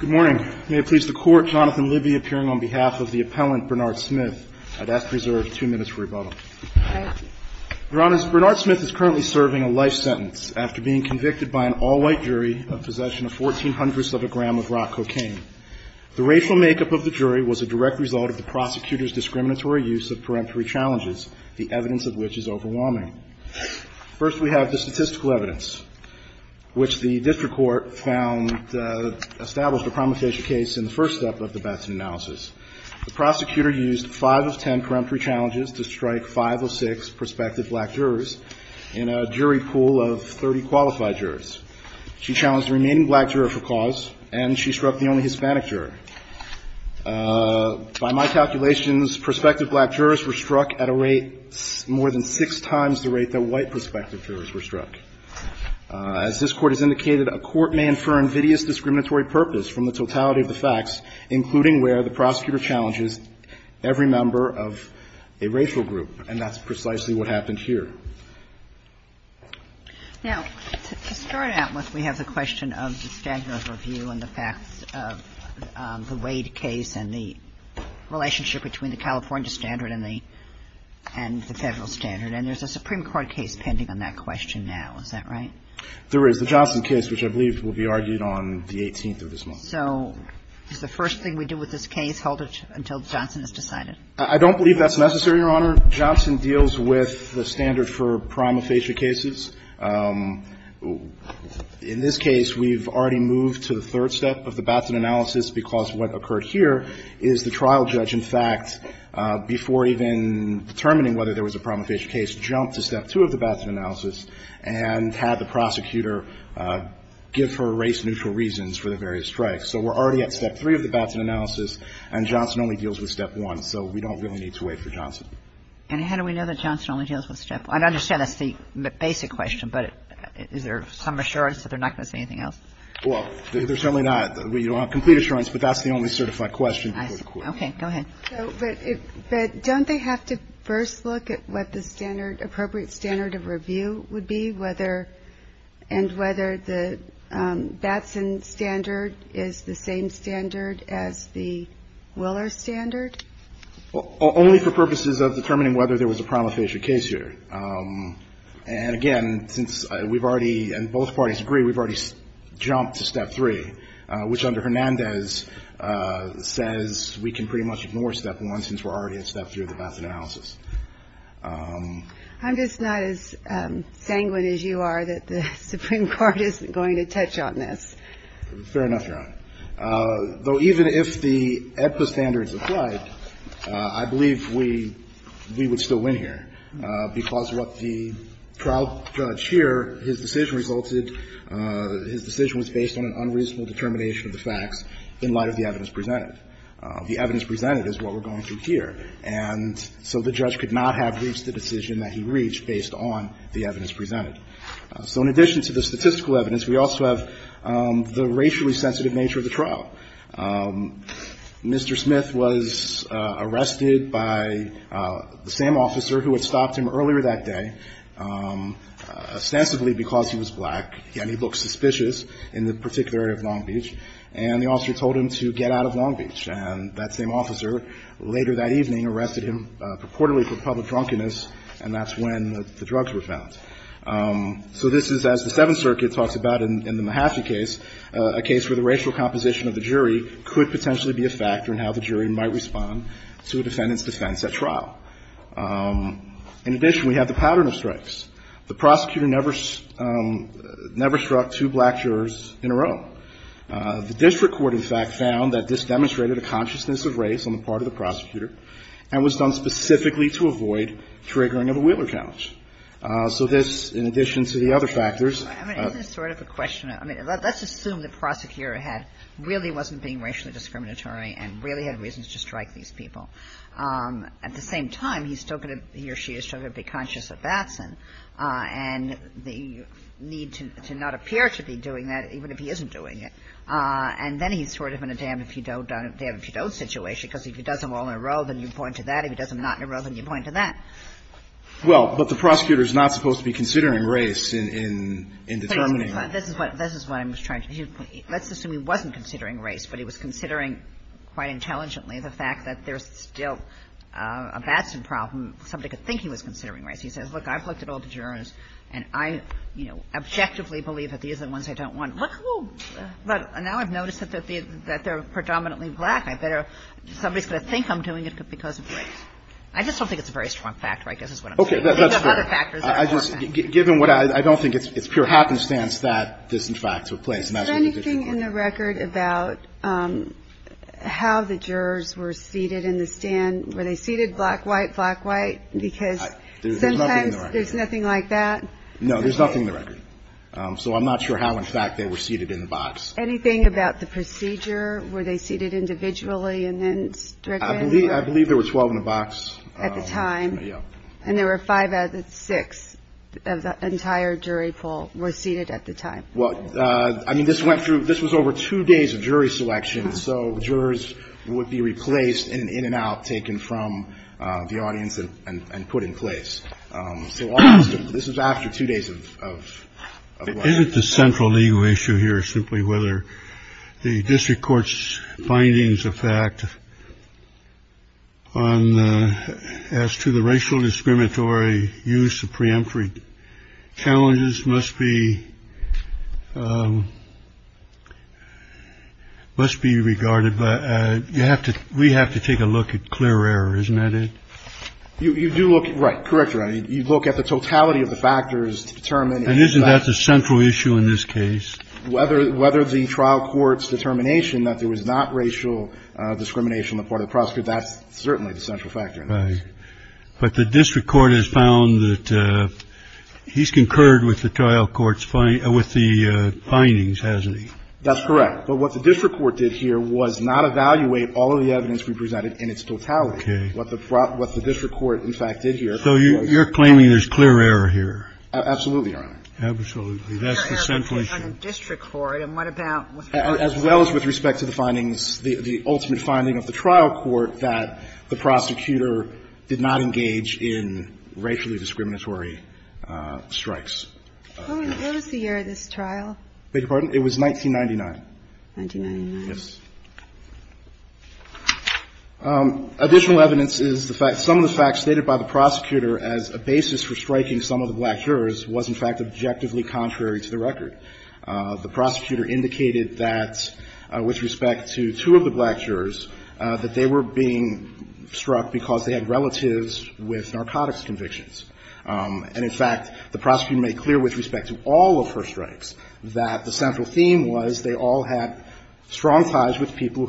Good morning. May it please the Court, Jonathan Libby appearing on behalf of the appellant Bernard Smith. I'd ask to reserve two minutes for rebuttal. Thank you. Your Honors, Bernard Smith is currently serving a life sentence after being convicted by an all-white jury of possession of 14 hundredths of a gram of rock cocaine. The racial makeup of the jury was a direct result of the prosecutor's discriminatory use of peremptory challenges, the evidence of which is overwhelming. First, we have the statistical evidence, which the district court found established a prometheus case in the first step of the Batson analysis. The prosecutor used five of ten peremptory challenges to strike five or six prospective black jurors in a jury pool of 30 qualified jurors. She challenged the remaining black juror for cause, and she struck the only Hispanic juror. By my calculations, prospective black jurors were struck at a rate more than six times the rate that white prospective jurors were struck. As this Court has indicated, a court may infer invidious discriminatory purpose from the totality of the facts, including where the prosecutor challenges every member of a racial group, and that's precisely what happened here. Now, to start out with, we have the question of the standard of review and the facts of the Wade case and the relationship between the California standard and the Federal standard. And there's a Supreme Court case pending on that question now. Is that right? There is. The Johnson case, which I believe will be argued on the 18th of this month. So is the first thing we do with this case, hold it until Johnson is decided? I don't believe that's necessary, Your Honor. Johnson deals with the standard for prima facie cases. In this case, we've already moved to the third step of the Batson analysis, because what occurred here is the trial judge, in fact, before even determining whether there was a prima facie case, jumped to step two of the Batson analysis and had the prosecutor give her race-neutral reasons for the various strikes. So we're already at step three of the Batson analysis, and Johnson only deals with step one, so we don't really need to wait for Johnson. And how do we know that Johnson only deals with step one? I understand that's the basic question, but is there some assurance that they're not going to say anything else? Well, there's certainly not. We don't have complete assurance, but that's the only certified question before the Court. Okay. Go ahead. But don't they have to first look at what the standard, appropriate standard of review would be, whether and whether the Batson standard is the same standard as the Willer standard? Well, only for purposes of determining whether there was a prima facie case here. And, again, since we've already, and both parties agree, we've already jumped to step three, which under Hernandez says we can pretty much ignore step one since we're already at step three of the Batson analysis. I'm just not as sanguine as you are that the Supreme Court isn't going to touch on this. Fair enough, Your Honor. Though even if the AEDPA standards applied, I believe we would still win here, because what the trial judge here, his decision resulted, his decision was based on an unreasonable determination of the facts in light of the evidence presented. The evidence presented is what we're going through here. And so the judge could not have reached the decision that he reached based on the evidence presented. So in addition to the statistical evidence, we also have the racially sensitive nature of the trial. Mr. Smith was arrested by the same officer who had stopped him earlier that day, ostensibly because he was black, and he looked suspicious in the particular area of Long Beach. And the officer told him to get out of Long Beach. And that same officer later that evening arrested him purportedly for public drunkenness, and that's when the drugs were found. So this is, as the Seventh Circuit talks about in the Mahaffey case, a case where the racial composition of the jury could potentially be a factor in how the jury might respond to a defendant's defense at trial. In addition, we have the pattern of strikes. The prosecutor never struck two black jurors in a row. The district court, in fact, found that this demonstrated a consciousness of race on the part of the prosecutor, and was done specifically to avoid triggering of a Wheeler couch. So this, in addition to the other factors of the case. Kagan. Kagan. I mean, isn't this sort of a question? I mean, let's assume the prosecutor had – really wasn't being racially discriminatory and really had reasons to strike these people. At the same time, he's still going to – he or she is still going to be conscious of Batson and the need to not appear to be doing that, even if he isn't doing it. And then he's sort of in a damn-if-you-don't, damn-if-you-don't situation, because if he does them all in a row, then you point to that. If he does them not in a row, then you point to that. Well, but the prosecutor is not supposed to be considering race in determining that. This is what I'm trying to do. Let's assume he wasn't considering race, but he was considering, quite intelligently, the fact that there's still a Batson problem. Somebody could think he was considering race. He says, look, I've looked at all the jurors, and I, you know, objectively believe that these are the ones I don't want. But now I've noticed that they're predominantly black. I better – somebody's going to think I'm doing it because of race. I just don't think it's a very strong factor, I guess, is what I'm saying. You have other factors that are more important. Okay. That's fair. I just – given what I – I don't think it's pure happenstance that this, in fact, took place. And that's what the district court did. Is there anything in the record about how the jurors were seated in the stand? Were they seated black, white, black, white? Because sometimes there's nothing like that. There's nothing in the record. No, there's nothing in the record. So I'm not sure how, in fact, they were seated in the box. Anything about the procedure? Were they seated individually and then strictly? I believe there were 12 in the box. At the time? Yeah. And there were five out of the six of the entire jury pool were seated at the time? Well, I mean, this went through – this was over two days of jury selection. So jurors would be replaced in an in-and-out taken from the audience and put in place. So this was after two days of – Isn't the central legal issue here simply whether the district court's findings of fact on – as to the racial discriminatory use of preemptory challenges must be – must be regarded by – you have to – we have to take a look at clear error, isn't that it? You do look – right. Correct, Your Honor. You look at the totality of the factors to determine – And isn't that the central issue in this case? Whether the trial court's determination that there was not racial discrimination on the part of the prosecutor, that's certainly the central factor in this. Right. But the district court has found that he's concurred with the trial court's – with the findings, hasn't he? That's correct. But what the district court did here was not evaluate all of the evidence we presented in its totality. Okay. What the district court, in fact, did here was not – So you're claiming there's clear error here? Absolutely, Your Honor. Absolutely. That's the central issue. Clear error on the district court, and what about – As well as with respect to the findings, the ultimate finding of the trial court, that the prosecutor did not engage in racially discriminatory strikes. What was the year of this trial? Beg your pardon? It was 1999. 1999. Yes. Additional evidence is the fact – some of the facts stated by the prosecutor as a basis for striking some of the black jurors was, in fact, objectively contrary to the record. The prosecutor indicated that with respect to two of the black jurors, that they were being struck because they had relatives with narcotics convictions. And, in fact, the prosecutor made clear with respect to all of her strikes that the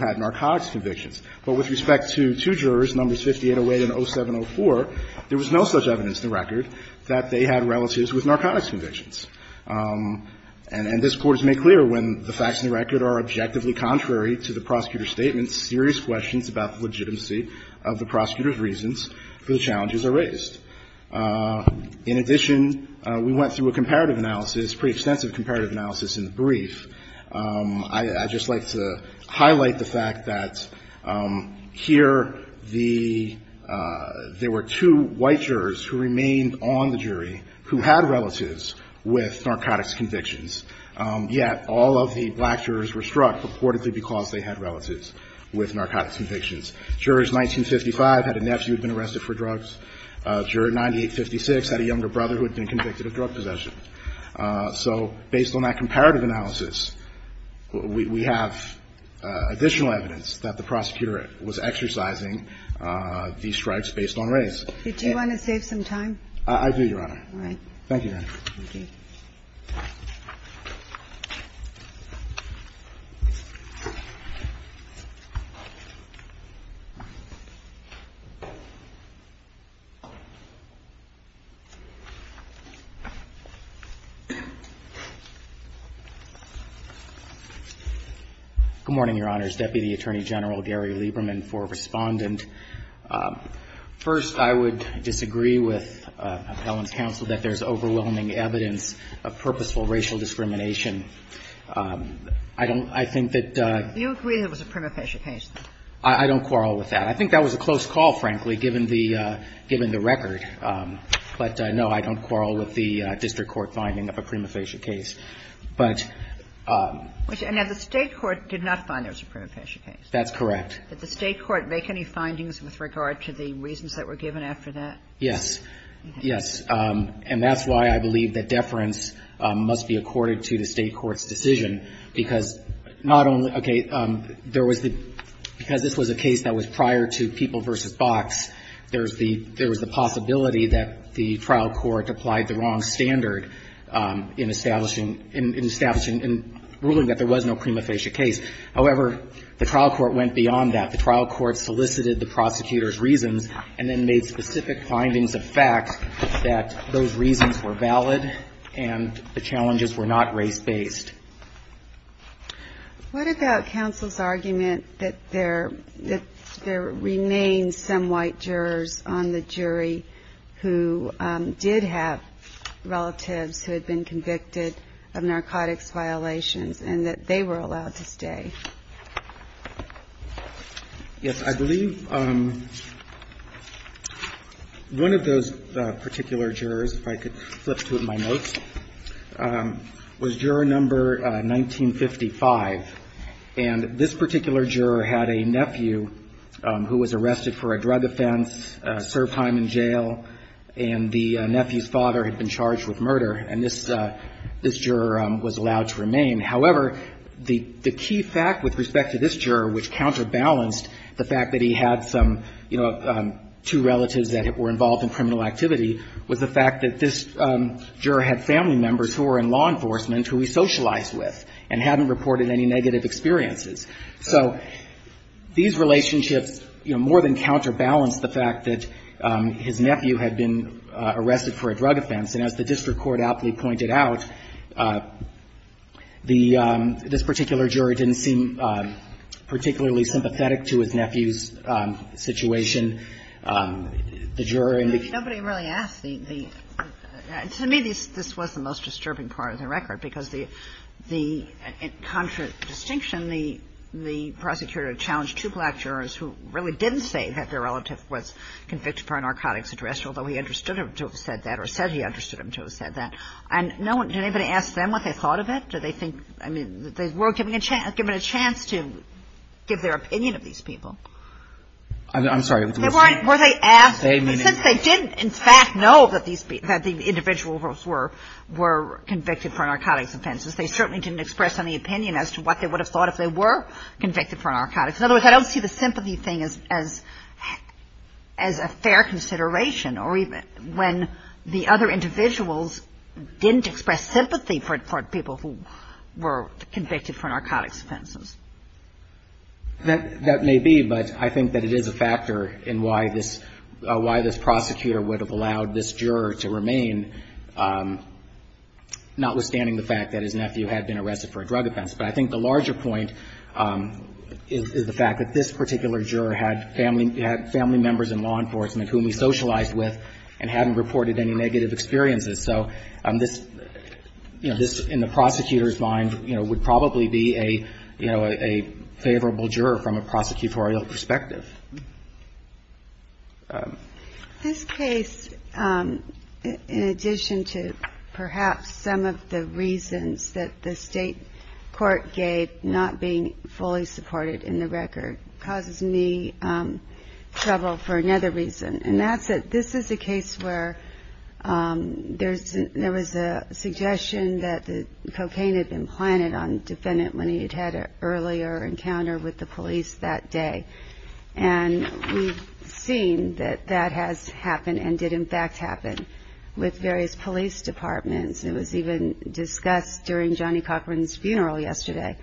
had narcotics convictions. But with respect to two jurors, numbers 5808 and 0704, there was no such evidence in the record that they had relatives with narcotics convictions. And this Court has made clear when the facts in the record are objectively contrary to the prosecutor's statements, serious questions about the legitimacy of the prosecutor's reasons for the challenges are raised. In addition, we went through a comparative analysis, pretty extensive comparative analysis in the brief. I just like to highlight the fact that here the – there were two white jurors who remained on the jury who had relatives with narcotics convictions, yet all of the black jurors were struck purportedly because they had relatives with narcotics convictions. Jurors 1955 had a nephew who had been arrested for drugs. Juror 9856 had a younger brother who had been convicted of drug possession. So based on that comparative analysis, we have additional evidence that the prosecutor was exercising these strikes based on race. Did you want to save some time? I do, Your Honor. All right. Thank you, Your Honor. Thank you. Good morning, Your Honors. Deputy Attorney General Gary Lieberman for Respondent. First, I would disagree with Appellant's counsel that there's overwhelming evidence of purposeful racial discrimination. I don't – I think that the – Do you agree that it was a prima facie case? I don't quarrel with that. I think that was a close call, frankly, given the record. But, no, I don't quarrel with the district court finding of a prima facie case. But – Now, the State court did not find there was a prima facie case. That's correct. Did the State court make any findings with regard to the reasons that were given after that? Yes. Yes. And that's why I believe that deference must be accorded to the State court's decision, because not only – okay, there was the – because this was a case that was prior to People v. Box, there's the – there was the possibility that the trial court applied the wrong standard in establishing – in establishing – in ruling that there was no prima facie case. However, the trial court went beyond that. The trial court solicited the prosecutor's reasons and then made specific findings of fact that those reasons were valid and the challenges were not race-based. What about counsel's argument that there – that there remained some white jurors on the jury who did have relatives who had been convicted of narcotics violations and that they were allowed to stay? Yes. I believe one of those particular jurors, if I could flip through my notes, was juror number 1955, and this particular juror had a nephew who was arrested for a drug offense, served time in jail, and the nephew's father had been charged with murder, and this – this juror was allowed to remain. However, the – the key fact with respect to this juror, which counterbalanced the fact that he had some, you know, two relatives that were involved in criminal activity, was the fact that this juror had family members who were in law enforcement who he socialized with and hadn't reported any negative experiences. So these relationships, you know, more than counterbalanced the fact that his nephew had been arrested for a drug offense, and as the district court aptly pointed out, the – this particular juror didn't seem particularly sympathetic to his nephew's situation. The juror in the – Nobody really asked the – to me, this was the most disturbing part of the record because the – in contra distinction, the prosecutor challenged two black jurors who really didn't say that their relative was convicted for a narcotics address, although he understood him to have said that or said he understood him to have said that, and no one – did anybody ask them what they thought of it? Did they think – I mean, were given a chance to give their opinion of these people? I'm sorry. Were they asked? They didn't, in fact, know that these – that the individuals were convicted for narcotics offenses. They certainly didn't express any opinion as to what they would have thought if they were convicted for narcotics. In other words, I don't see the sympathy thing as a fair consideration or even when the other individuals didn't express sympathy for people who were convicted for narcotics offenses. That may be, but I think that it is a factor in why this prosecutor would have allowed this juror to remain, notwithstanding the fact that his nephew had been arrested for a drug offense. But I think the larger point is the fact that this particular juror had family members in law enforcement whom he socialized with and hadn't reported any negative experiences. So this, in the prosecutor's mind, would probably be a favorable juror from a prosecutorial perspective. This case, in addition to perhaps some of the reasons that the state court gave not being fully supported in the record, causes me trouble for another reason, and that's that this is a case where there was a suggestion that cocaine had been planted on the defendant when he had had an earlier encounter with the police that day. And we've seen that that has happened and did, in fact, happen with various police departments. It was even discussed during Johnny Cochran's funeral yesterday.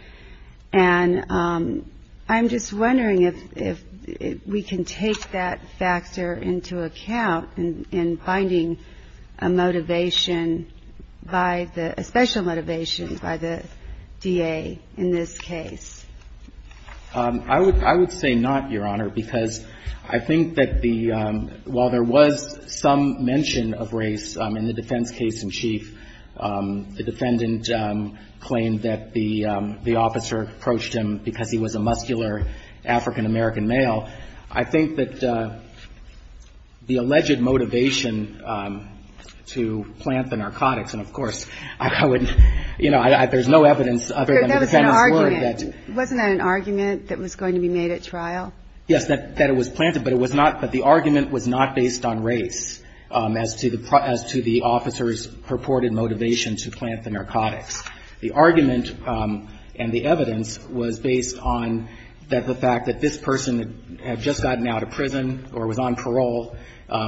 And I'm just wondering if we can take that factor into account in finding a motivation by the — a special motivation by the DA in this case. I would say not, Your Honor, because I think that the — while there was some mention of race in the defense case in chief, the defendant claimed that the police department approached him because he was a muscular African-American male. I think that the alleged motivation to plant the narcotics, and of course, I would — you know, there's no evidence other than the defendant's word that — Wasn't that an argument that was going to be made at trial? Yes, that it was planted, but it was not — but the argument was not based on race as to the officer's purported motivation to plant the narcotics. The argument and the evidence was based on the fact that this person had just gotten out of prison or was on parole.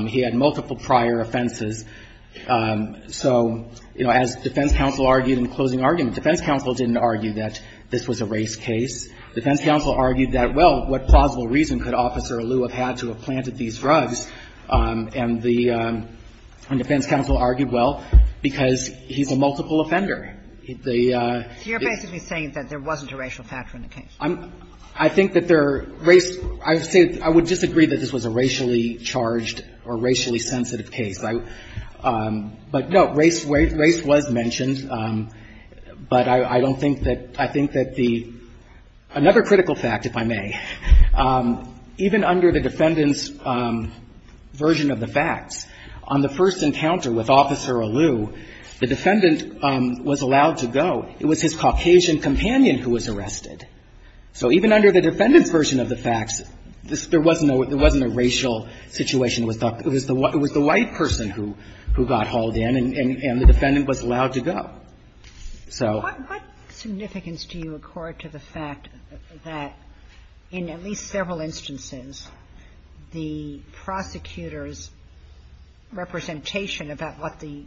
He had multiple prior offenses. So, you know, as defense counsel argued in the closing argument, defense counsel didn't argue that this was a race case. Defense counsel argued that, well, what plausible reason could Officer Alou have had to have planted these drugs? And the defense counsel argued, well, because he's a multiple offender. The — So you're basically saying that there wasn't a racial factor in the case? I'm — I think that there — race — I would say — I would disagree that this was a racially charged or racially sensitive case. I — but, no, race — race was mentioned. But I don't think that — I think that the — another critical fact, if I may. Even under the defendant's version of the facts, on the first encounter with Officer Alou, the defendant was allowed to go. It was his Caucasian companion who was arrested. So even under the defendant's version of the facts, there wasn't a — there wasn't a racial situation with the — it was the white person who got hauled in, and the defendant was allowed to go. So — What significance do you accord to the fact that, in at least several instances, the prosecutor's representation about what the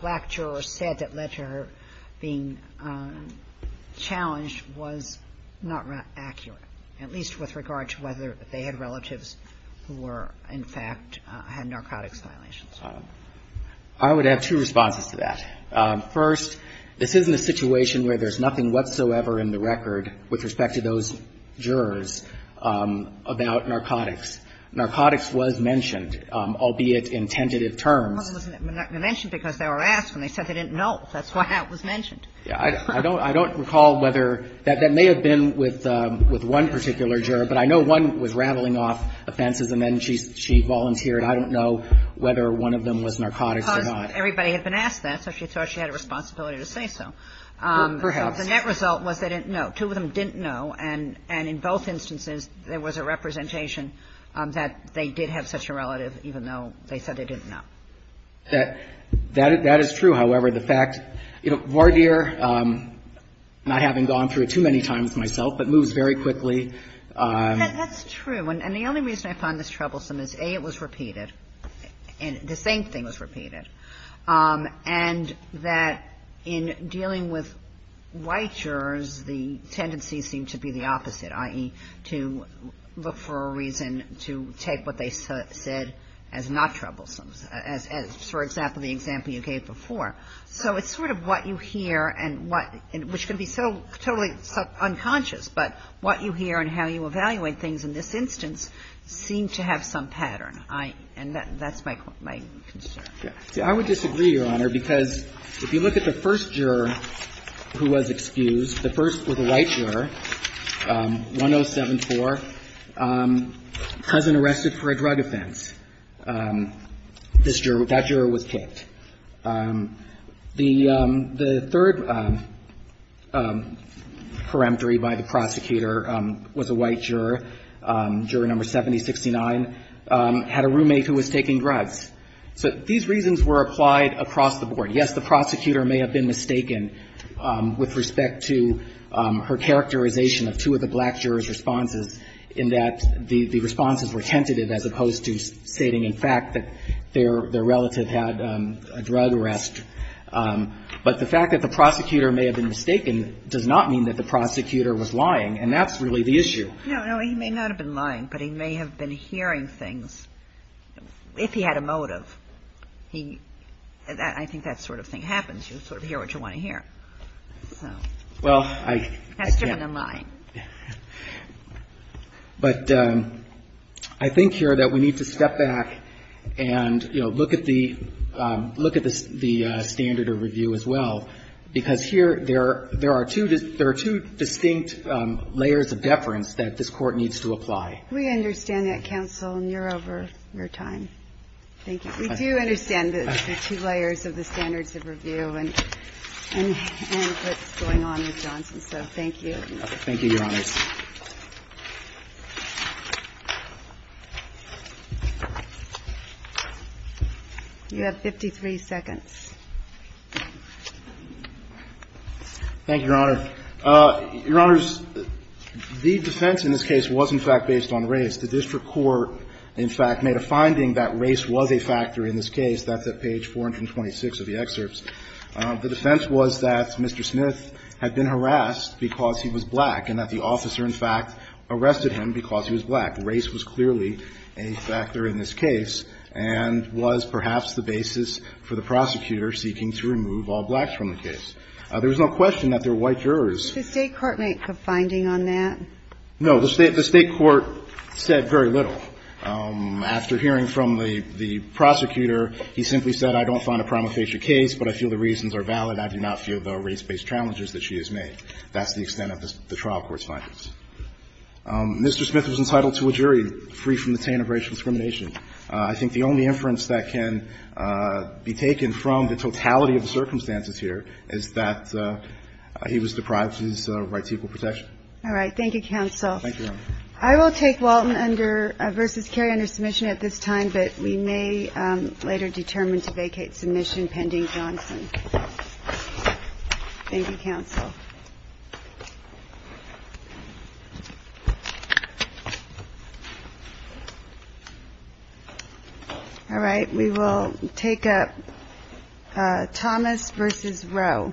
black juror said that led to her being challenged was not accurate, at least with regard to whether they had relatives who were, in fact, had narcotics violations? I would have two responses to that. First, this isn't a situation where there's nothing whatsoever in the record with respect to those jurors about narcotics. Narcotics was mentioned, albeit in tentative terms. But it wasn't mentioned because they were asked, and they said they didn't know. That's why it was mentioned. I don't — I don't recall whether — that may have been with one particular juror, but I know one was rattling off offenses, and then she volunteered. I don't know whether one of them was narcotics or not. Because everybody had been asked that, so she thought she had a responsibility to say so. Perhaps. The net result was they didn't know. Two of them didn't know. And in both instances, there was a representation that they did have such a relative, even though they said they didn't know. That is true. However, the fact — you know, Vardir, not having gone through it too many times myself, but moves very quickly. That's true. And the only reason I find this troublesome is, A, it was repeated. The same thing was repeated. And that in dealing with white jurors, the tendencies seem to be the opposite, i.e., to look for a reason to take what they said as not troublesome, as, for example, the example you gave before. So it's sort of what you hear and what — which can be so totally unconscious, but what you hear and how you evaluate things in this instance seem to have some pattern, and that's my concern. Yeah. See, I would disagree, Your Honor, because if you look at the first juror who was excused, the first was a white juror, 1074, cousin arrested for a drug offense. This juror — that juror was kicked. The third peremptory by the prosecutor was a white juror, juror number 7069, had a roommate who was taking drugs. So these reasons were applied across the board. Yes, the prosecutor may have been mistaken with respect to her characterization of two of the black jurors' responses in that the responses were tentative as opposed to stating, in fact, that their relative had a drug arrest. But the fact that the prosecutor may have been mistaken does not mean that the prosecutor was lying, and that's really the issue. No, no. He may not have been lying, but he may have been hearing things. If he had a motive, he — I think that sort of thing happens. You sort of hear what you want to hear. So. Well, I — That's different than lying. But I think here that we need to step back and, you know, look at the — look at the standard of review as well, because here there are two distinct layers of deference that this Court needs to apply. We understand that, counsel, and you're over your time. Thank you. We do understand the two layers of the standards of review and what's going on with Johnson, so thank you. Thank you, Your Honor. You have 53 seconds. Thank you, Your Honor. Your Honors, the defense in this case was, in fact, based on race. The district court, in fact, made a finding that race was a factor in this case. That's at page 426 of the excerpts. The defense was that Mr. Smith had been harassed because he was black and that the officer, in fact, arrested him because he was black. Race was clearly a factor in this case and was perhaps the basis for the prosecutor seeking to remove all blacks from the case. There was no question that there were white jurors. Did the State court make a finding on that? No. The State court said very little. After hearing from the prosecutor, he simply said, I don't find a prima facie case, but I feel the reasons are valid. I do not feel the race-based challenges that she has made. That's the extent of the trial court's findings. Mr. Smith was entitled to a jury, free from the taint of racial discrimination. I think the only inference that can be taken from the totality of the circumstances here is that he was deprived of his right to equal protection. All right. Thank you, counsel. Thank you, Your Honor. I will take Walton under versus Kerry under submission at this time, but we may later determine to vacate submission pending Johnson. Thank you, counsel. All right. We will take up Thomas versus Rowe. Thank you, Your Honor.